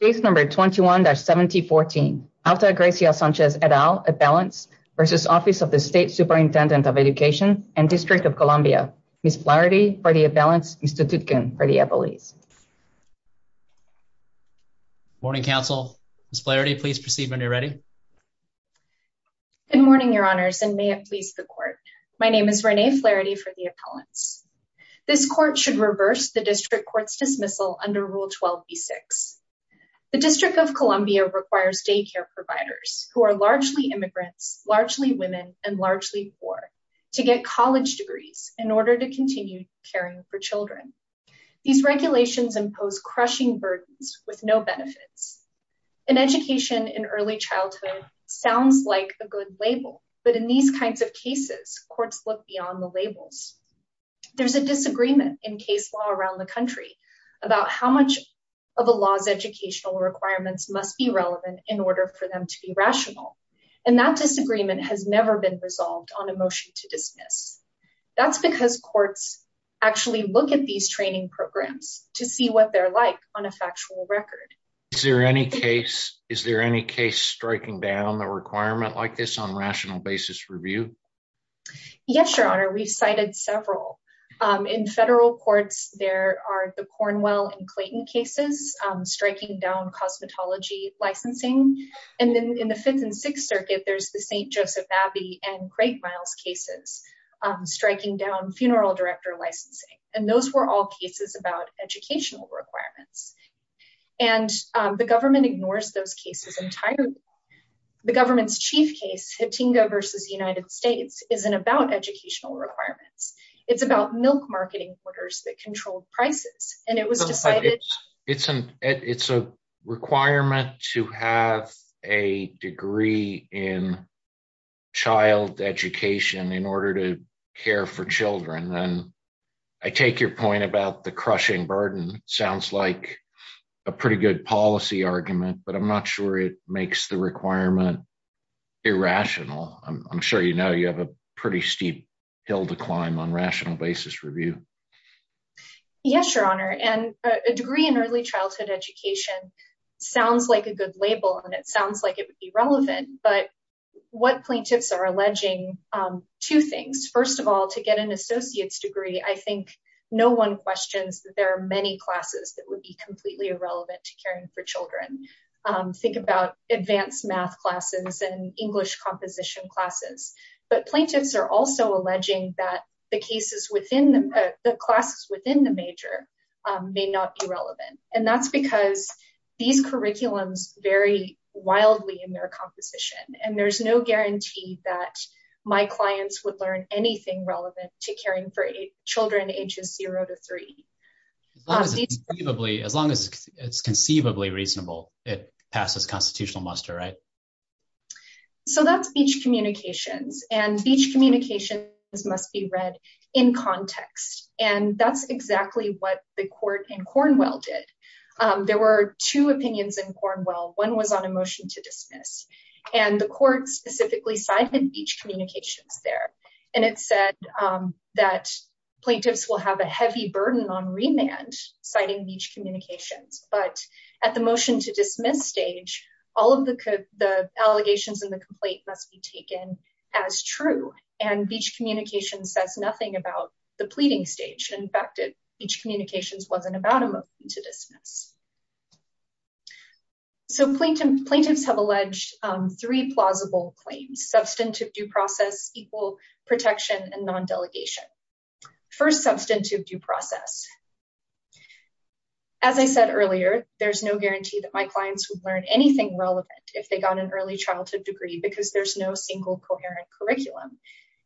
State number 21-7014, Altagracia Sanchez et al, appellants, versus Office of the State Superintendent of Education and District of Columbia. Ms. Flaherty for the appellants, Mr. Tutkin for the appellees. Morning, council. Ms. Flaherty, please proceed when you're ready. Good morning, your honors, and may it please the court. My name is Renee Flaherty for the appellants. This court should reverse the district court's dismissal under Rule 12B-6. The District of Columbia requires daycare providers who are largely immigrants, largely women, and largely poor to get college degrees in order to continue caring for children. These regulations impose crushing burdens with no benefits. An education in early childhood sounds like a good label, but in these kinds of cases, courts look beyond the labels. There's a disagreement in case law around the country about how much of a law's educational requirements must be relevant in order for them to be rational. And that disagreement has never been resolved on a motion to dismiss. That's because courts actually look at these training programs to see what they're like on a factual record. Is there any case striking down the requirement like this on rational basis review? Yes, your honor, we've cited several. In federal courts, there are the Cornwell and Clayton cases striking down cosmetology licensing. And then in the Fifth and Sixth Circuit, there's the St. Joseph Abbey and Great Miles cases striking down funeral director licensing. And those were all cases about educational requirements. And the government ignores those cases entirely. The government's chief case, Hatinga versus United States, isn't about educational requirements. It's about milk marketing orders that control prices. And it was decided- It's a requirement to have a degree in child education in order to care for children. And I take your point about the crushing burden sounds like a pretty good policy argument, but I'm not sure it makes the requirement irrational. I'm sure you know you have a pretty steep hill to climb on rational basis review. Yes, your honor. And a degree in early childhood education sounds like a good label and it sounds like it would be relevant, but what plaintiffs are alleging, two things. First of all, to get an associate's degree, I think no one questions that there are many classes that would be completely irrelevant to caring for children. Think about advanced math classes and English composition classes. But plaintiffs are also alleging that the classes within the major may not be relevant. And that's because these curriculums vary wildly in their composition. And there's no guarantee that my clients would learn anything relevant to caring for children ages zero to three. As long as it's conceivably reasonable, it passes constitutional muster, right? So that's beach communications and beach communications must be read in context. And that's exactly what the court in Cornwell did. There were two opinions in Cornwell. One was on a motion to dismiss and the court specifically cited beach communications there. And it said that plaintiffs will have a heavy burden on remand citing beach communications. But at the motion to dismiss stage, all of the allegations and the complaint must be taken as true. And beach communications says nothing about the pleading stage. In fact, beach communications wasn't about a motion to dismiss. So plaintiffs have alleged three plausible claims, substantive due process, equal protection and non-delegation. First substantive due process. As I said earlier, there's no guarantee that my clients would learn anything relevant if they got an early childhood degree because there's no single coherent curriculum.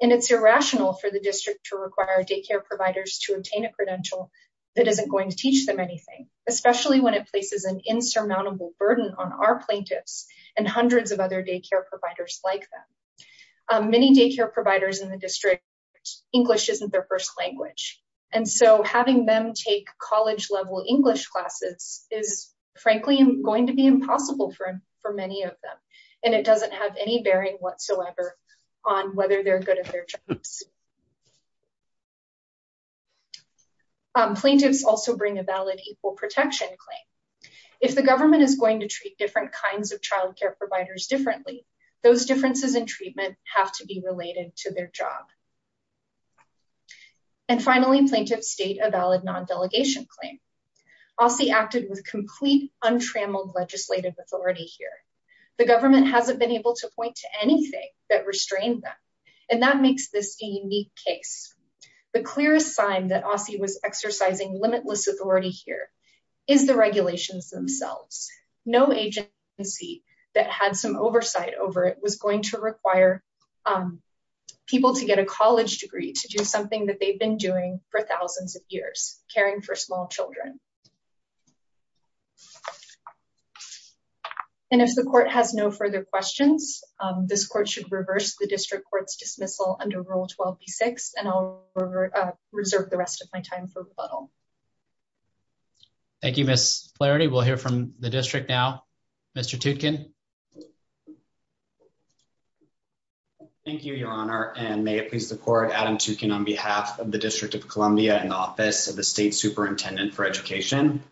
And it's irrational for the district to require daycare providers to obtain a credential that isn't going to teach them anything, especially when it places an insurmountable burden on our plaintiffs and hundreds of other daycare providers like them. Many daycare providers in the district, English isn't their first language. And so having them take college level English classes is frankly going to be impossible for many of them. And it doesn't have any bearing whatsoever on whether they're good at their jobs. Plaintiffs also bring a valid equal protection claim. If the government is going to treat different kinds of childcare providers differently, those differences in treatment have to be related to their job. And finally plaintiffs state a valid non-delegation claim. OSCE acted with complete untrammeled legislative authority here. The government hasn't been able to point to anything that restrained them. And that makes this a unique case. The clearest sign that OSCE was exercising limitless authority here is the regulations themselves. No agency that had some oversight over it was going to require people to get a college degree to do something that they've been doing for thousands of years, caring for small children. And if the court has no further questions, this court should reverse the district court's dismissal under rule 12B6 and I'll reserve the rest of my time for rebuttal. Thank you, Ms. Flaherty. We'll hear from the district now. Mr. Tootkin. Thank you, your honor. And may it please the court, I'm Adam Tootkin on behalf of the District of Columbia and the Office of the State Superintendent for Education.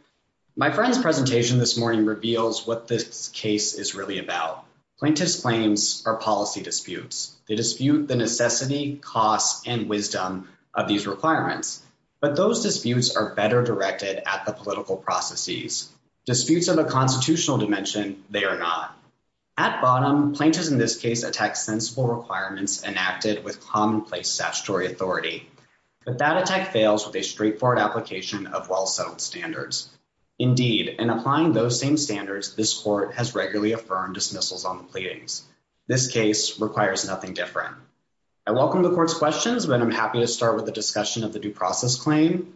My friend's presentation this morning reveals what this case is really about. Plaintiffs' claims are policy disputes. They dispute the necessity, costs, and wisdom of these requirements. But those disputes are better directed at the political processes. Disputes of a constitutional dimension, they are not. At bottom, plaintiffs in this case attack sensible requirements enacted with commonplace statutory authority. But that attack fails with a straightforward application of well-settled standards. Indeed, in applying those same standards, this court has regularly affirmed dismissals on the pleadings. This case requires nothing different. I welcome the court's questions, but I'm happy to start with the discussion of the due process claim.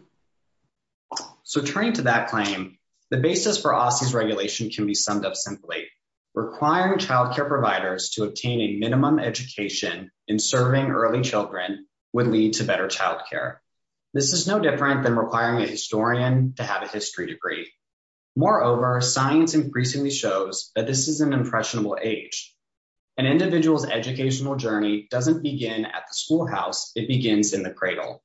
So turning to that claim, the basis for OSSI's regulation can be summed up simply, requiring childcare providers to obtain a minimum education in serving early children would lead to better childcare. This is no different than requiring a historian to have a history degree. Moreover, science increasingly shows that this is an impressionable age. An individual's educational journey doesn't begin at the schoolhouse, it begins in the cradle.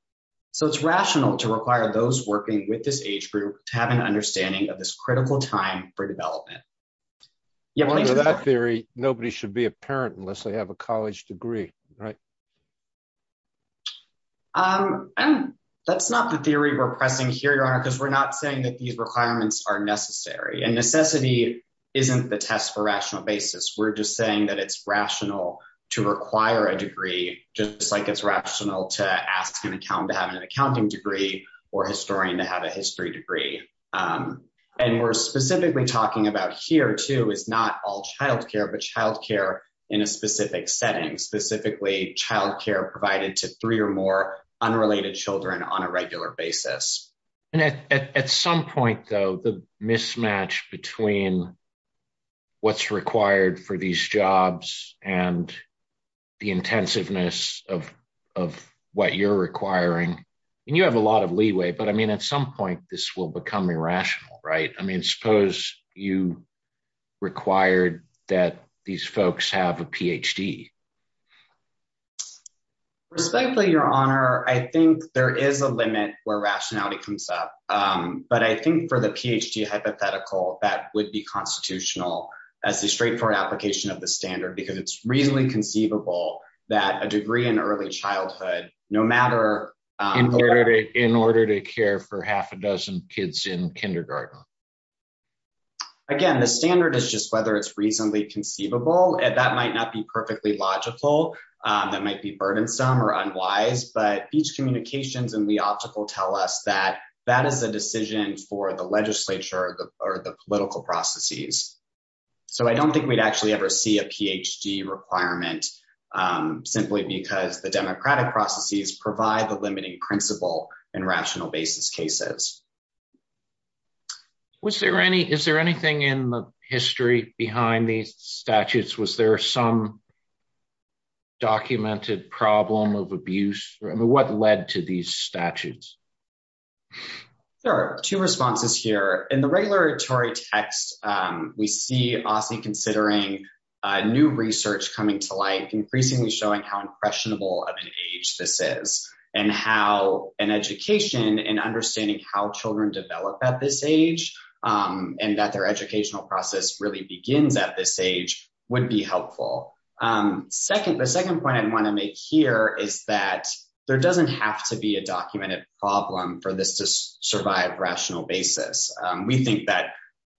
So it's rational to require those working with this age group to have an understanding of this critical time for development. Yeah, please go ahead. Under that theory, nobody should be a parent unless they have a college degree, right? That's not the theory we're pressing here, Your Honor, because we're not saying that these requirements are necessary. And necessity isn't the test for rational basis. We're just saying that it's rational to require a degree, just like it's rational to ask an accountant to have an accounting degree or historian to have a history degree. And we're specifically talking about here too is not all childcare, but childcare in a specific setting, specifically childcare provided to three or more unrelated children on a regular basis. And at some point though, the mismatch between what's required for these jobs and the intensiveness of what you're requiring, and you have a lot of leeway, but I mean, at some point this will become irrational, right? I mean, suppose you required that these folks have a PhD. Respectfully, Your Honor, I think there is a limit where rationality comes up, but I think for the PhD hypothetical, that would be constitutional as a straightforward application of the standard because it's reasonably conceivable that a degree in early childhood, no matter- In order to care for half a dozen kids in kindergarten. Again, the standard is just whether it's reasonably conceivable, and that might not be perfectly logical. That might be burdensome or unwise, but each communications and we optical tell us that that is a decision for the legislature or the political processes. So I don't think we'd actually ever see a PhD requirement simply because the democratic processes provide the limiting principle in rational basis cases. Was there any, is there anything in the history behind these statutes? Was there some documented problem of abuse? I mean, what led to these statutes? There are two responses here. In the regulatory text, we see Aussie considering new research coming to light, increasingly showing how impressionable of an age this is and how an education and understanding how children develop at this age and that their educational process really begins at this age would be helpful. Second, the second point I wanna make here is that there doesn't have to be a documented problem for this to survive rational basis. We think that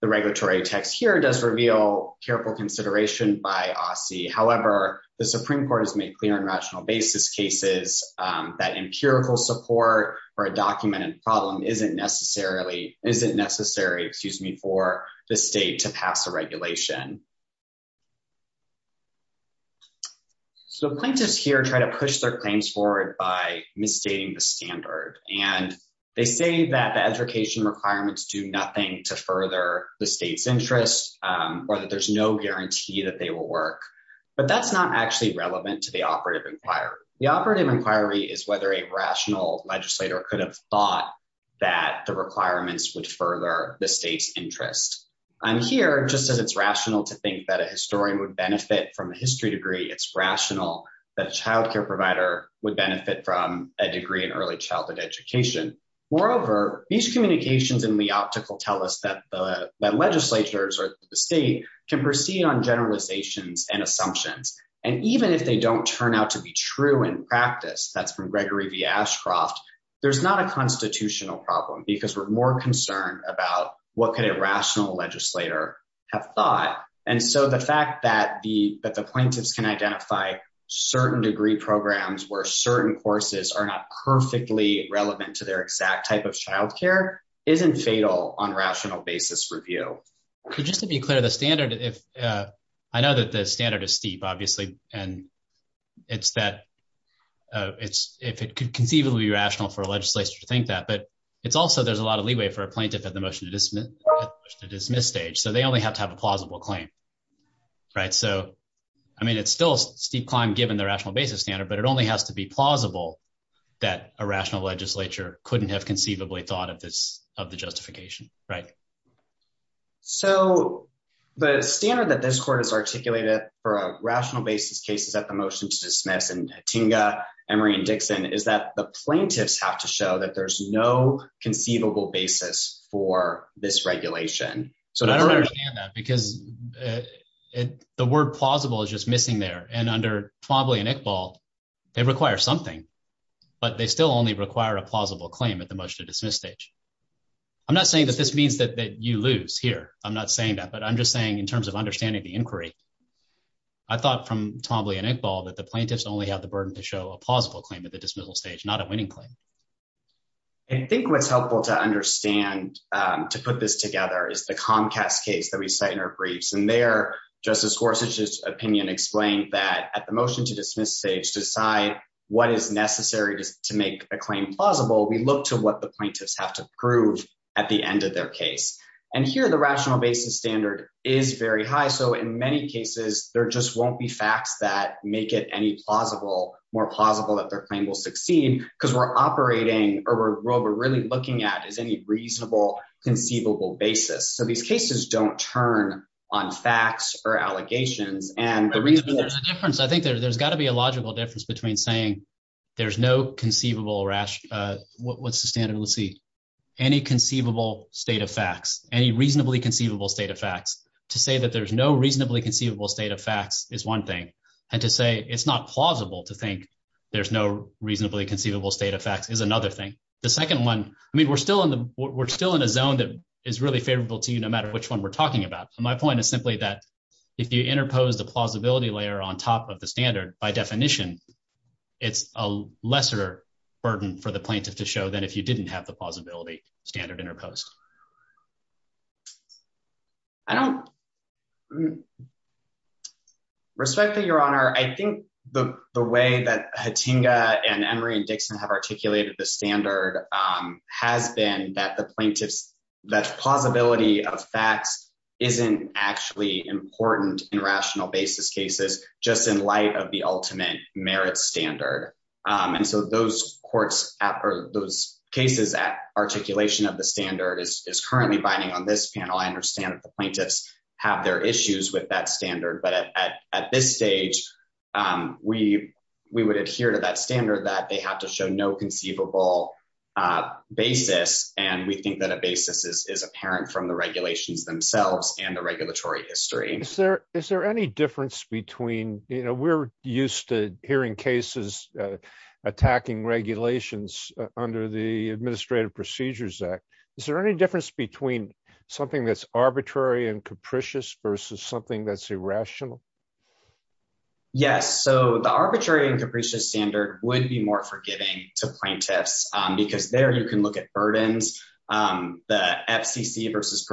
the regulatory text here does reveal careful consideration by Aussie. However, the Supreme Court has made clear in rational basis cases that empirical support for a documented problem isn't necessary, excuse me, for the state to pass a regulation. So plaintiffs here try to push their claims forward by misstating the standard. And they say that the education requirements do nothing to further the state's interest or that there's no guarantee that they will work. But that's not actually relevant to the operative inquiry. The operative inquiry is whether a rational legislator could have thought that the requirements would further the state's interest. I'm here just as it's rational to think that a historian would benefit from a history degree, it's rational that a childcare provider would benefit from a degree in early childhood education. Moreover, these communications in the optical tell us that the legislators or the state can proceed on generalizations and assumptions. And even if they don't turn out to be true in practice, that's from Gregory V. Ashcroft, there's not a constitutional problem because we're more concerned about what could a rational legislator have thought. And so the fact that the plaintiffs can identify certain degree programs where certain courses are not perfectly relevant to their exact type of childcare isn't fatal on rational basis review. So just to be clear, the standard, I know that the standard is steep, obviously, and it's that if it could conceivably be rational for a legislator to think that, but it's also, there's a lot of leeway for a plaintiff at the motion to dismiss stage. So they only have to have a plausible claim, right? So, I mean, it's still a steep climb given the rational basis standard, but it only has to be plausible that a rational legislature couldn't have conceivably thought of the justification, right? So the standard that this court has articulated for a rational basis case is at the motion to dismiss and Tinga, Emery, and Dixon is that the plaintiffs have to show that there's no conceivable basis for this regulation. So I don't understand that because the word plausible is just missing there. And under Twombly and Iqbal, they require something, but they still only require a plausible claim at the motion to dismiss stage. I'm not saying that this means that you lose here. I'm not saying that, but I'm just saying in terms of understanding the inquiry, I thought from Twombly and Iqbal that the plaintiffs only have the burden to show a plausible claim at the dismissal stage, not a winning claim. I think what's helpful to understand to put this together is the Comcast case that we cite in our briefs. And there, Justice Gorsuch's opinion explained that at the motion to dismiss stage, to decide what is necessary to make a claim plausible, we look to what the plaintiffs have to prove at the end of their case. And here, the rational basis standard is very high. So in many cases, there just won't be facts that make it any more plausible that their claim will succeed because we're operating, or what we're really looking at is any reasonable conceivable basis. So these cases don't turn on facts or allegations. And the reason- I think there's gotta be a logical difference between saying there's no conceivable rational, what's the standard, let's see, any conceivable state of facts, any reasonably conceivable state of facts. To say that there's no reasonably conceivable state of facts is one thing. And to say it's not plausible to think there's no reasonably conceivable state of facts is another thing. The second one, I mean, we're still in a zone that is really favorable to you no matter which one we're talking about. And my point is simply that if you interpose the plausibility layer on top of the standard, by definition, it's a lesser burden for the plaintiff to show than if you didn't have the plausibility standard interposed. I don't... Respectfully, Your Honor, I think the way that Hatinga and Emory and Dixon have articulated the standard has been that the plaintiff's, that the plausibility of facts isn't actually important in rational basis cases just in light of the ultimate merit standard. And so those courts or those cases at articulation of the standard is currently binding on this panel. I understand that the plaintiffs have their issues with that standard, but at this stage we would adhere to that standard that they have to show no conceivable basis. And we think that a basis is apparent from the regulations themselves and the regulatory history. Is there any difference between, we're used to hearing cases attacking regulations under the Administrative Procedures Act. Is there any difference between something that's arbitrary and capricious versus something that's irrational? Yes, so the arbitrary and capricious standard would be more forgiving to plaintiffs because there you can look at burdens. The FCC versus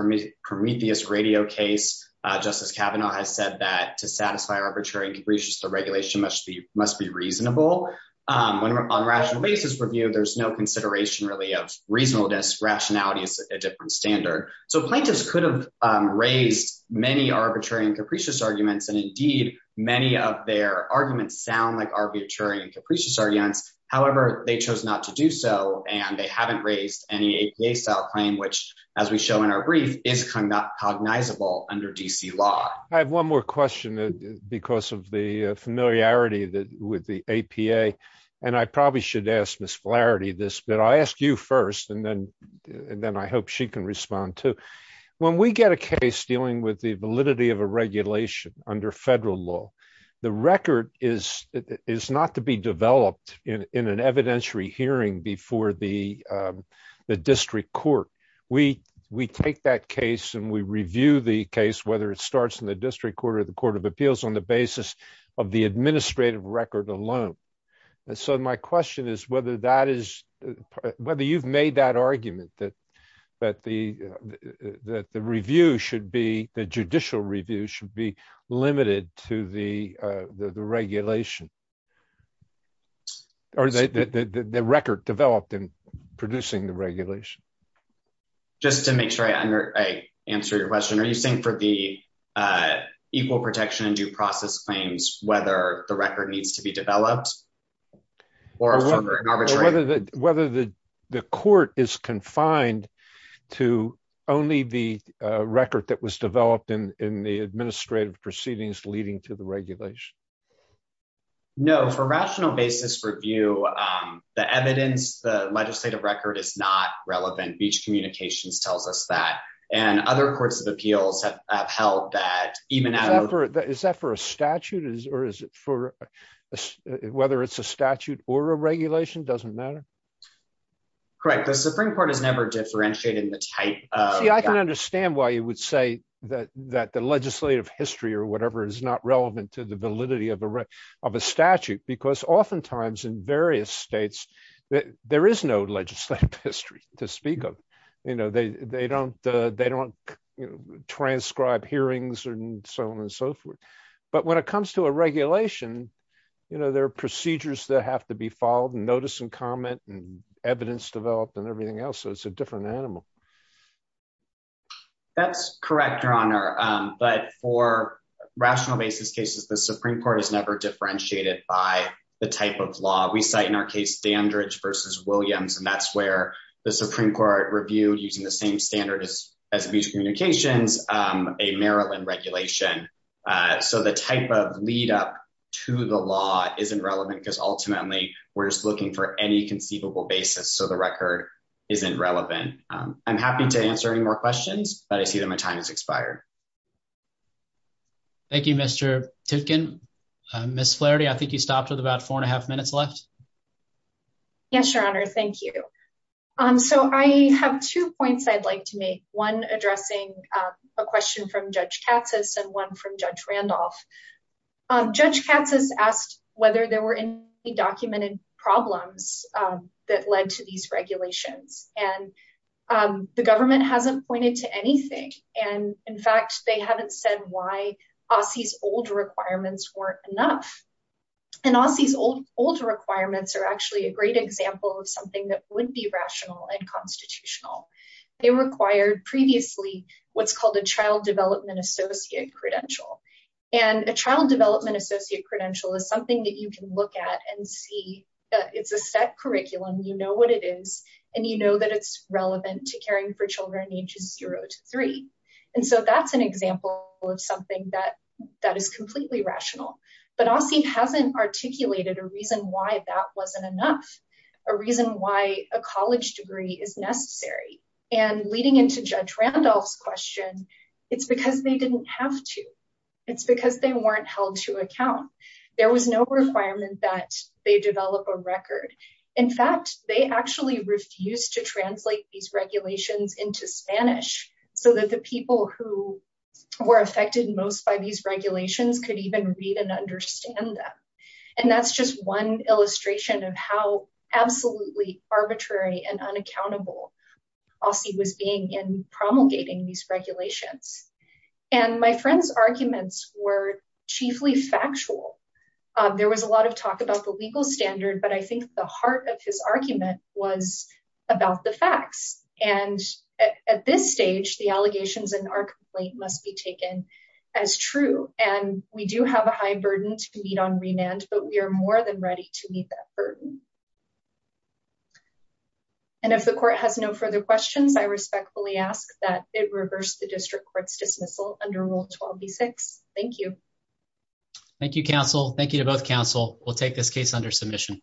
Prometheus radio case, Justice Kavanaugh has said that to satisfy arbitrary and capricious, the regulation must be reasonable. When on rational basis review, there's no consideration really of reasonableness, rationality is a different standard. So plaintiffs could have raised many arbitrary and capricious arguments and indeed many of their arguments sound like arbitrary and capricious arguments. However, they chose not to do so and they haven't raised any APA style claim, which as we show in our brief is cognizable under DC law. I have one more question because of the familiarity with the APA. And I probably should ask Ms. Flaherty this, but I'll ask you first and then I hope she can respond too. When we get a case dealing with the validity of a regulation under federal law, the record is not to be developed in an evidentiary hearing before the district court. We take that case and we review the case, whether it starts in the district court or the court of appeals on the basis of the administrative record alone. And so my question is whether you've made that argument that the judicial review should be limited to the regulation or the record developed in producing the regulation. Just to make sure I answer your question, are you saying for the equal protection and due process claims, whether the record needs to be developed to only the record that was developed in the administrative proceedings leading to the regulation? No, for rational basis review, the evidence, the legislative record is not relevant. Beach Communications tells us that and other courts of appeals have held that even- Is that for a statute or is it for, whether it's a statute or a regulation, doesn't matter? Correct, the Supreme Court has never differentiated the type of- See, I can understand why you would say that the legislative history or whatever is not relevant to the validity of a statute because oftentimes in various states, there is no legislative history to speak of. They don't transcribe hearings and so on and so forth. But when it comes to a regulation, there are procedures that have to be followed and notice and comment and evidence developed and everything else, so it's a different animal. That's correct, Your Honor, but for rational basis cases, the Supreme Court has never differentiated by the type of law. We cite in our case, Dandridge v. Williams, and that's where the Supreme Court reviewed using the same standard as Beach Communications, a Maryland regulation. So the type of lead up to the law isn't relevant because ultimately we're just looking for any conceivable basis, so the record isn't relevant. I'm happy to answer any more questions, but I see that my time has expired. Thank you, Mr. Titkin. Ms. Flaherty, I think you stopped with about four and a half minutes left. Yes, Your Honor, thank you. So I have two points I'd like to make, one addressing a question from Judge Katsas and one from Judge Randolph. Judge Katsas asked whether there were any documented problems that led to these regulations, and the government hasn't pointed to anything. And in fact, they haven't said why OSCE's old requirements weren't enough. And OSCE's old requirements are actually a great example of something that would be rational and constitutional. They required previously what's called a Child Development Associate Credential. And a Child Development Associate Credential is something that you can look at and see that it's a set curriculum, you know what it is, and you know that it's relevant to caring for children ages zero to three. And so that's an example of something that is completely rational. But OSCE hasn't articulated a reason why that wasn't enough, a reason why a college degree is necessary. And leading into Judge Randolph's question, it's because they didn't have to. There was no requirement that they develop a record. In fact, they actually refused to translate these regulations into Spanish so that the people who were affected most by these regulations could even read and understand them. And that's just one illustration of how absolutely arbitrary and unaccountable OSCE was being in promulgating these regulations. And my friend's arguments were chiefly factual. There was a lot of talk about the legal standard, but I think the heart of his argument was about the facts. And at this stage, the allegations in our complaint must be taken as true. And we do have a high burden to meet on remand, but we are more than ready to meet that burden. And if the court has no further questions, I respectfully ask that it reverse the district court's dismissal under Rule 12b-6. Thank you. Thank you, counsel. Thank you to both counsel. We'll take this case under submission.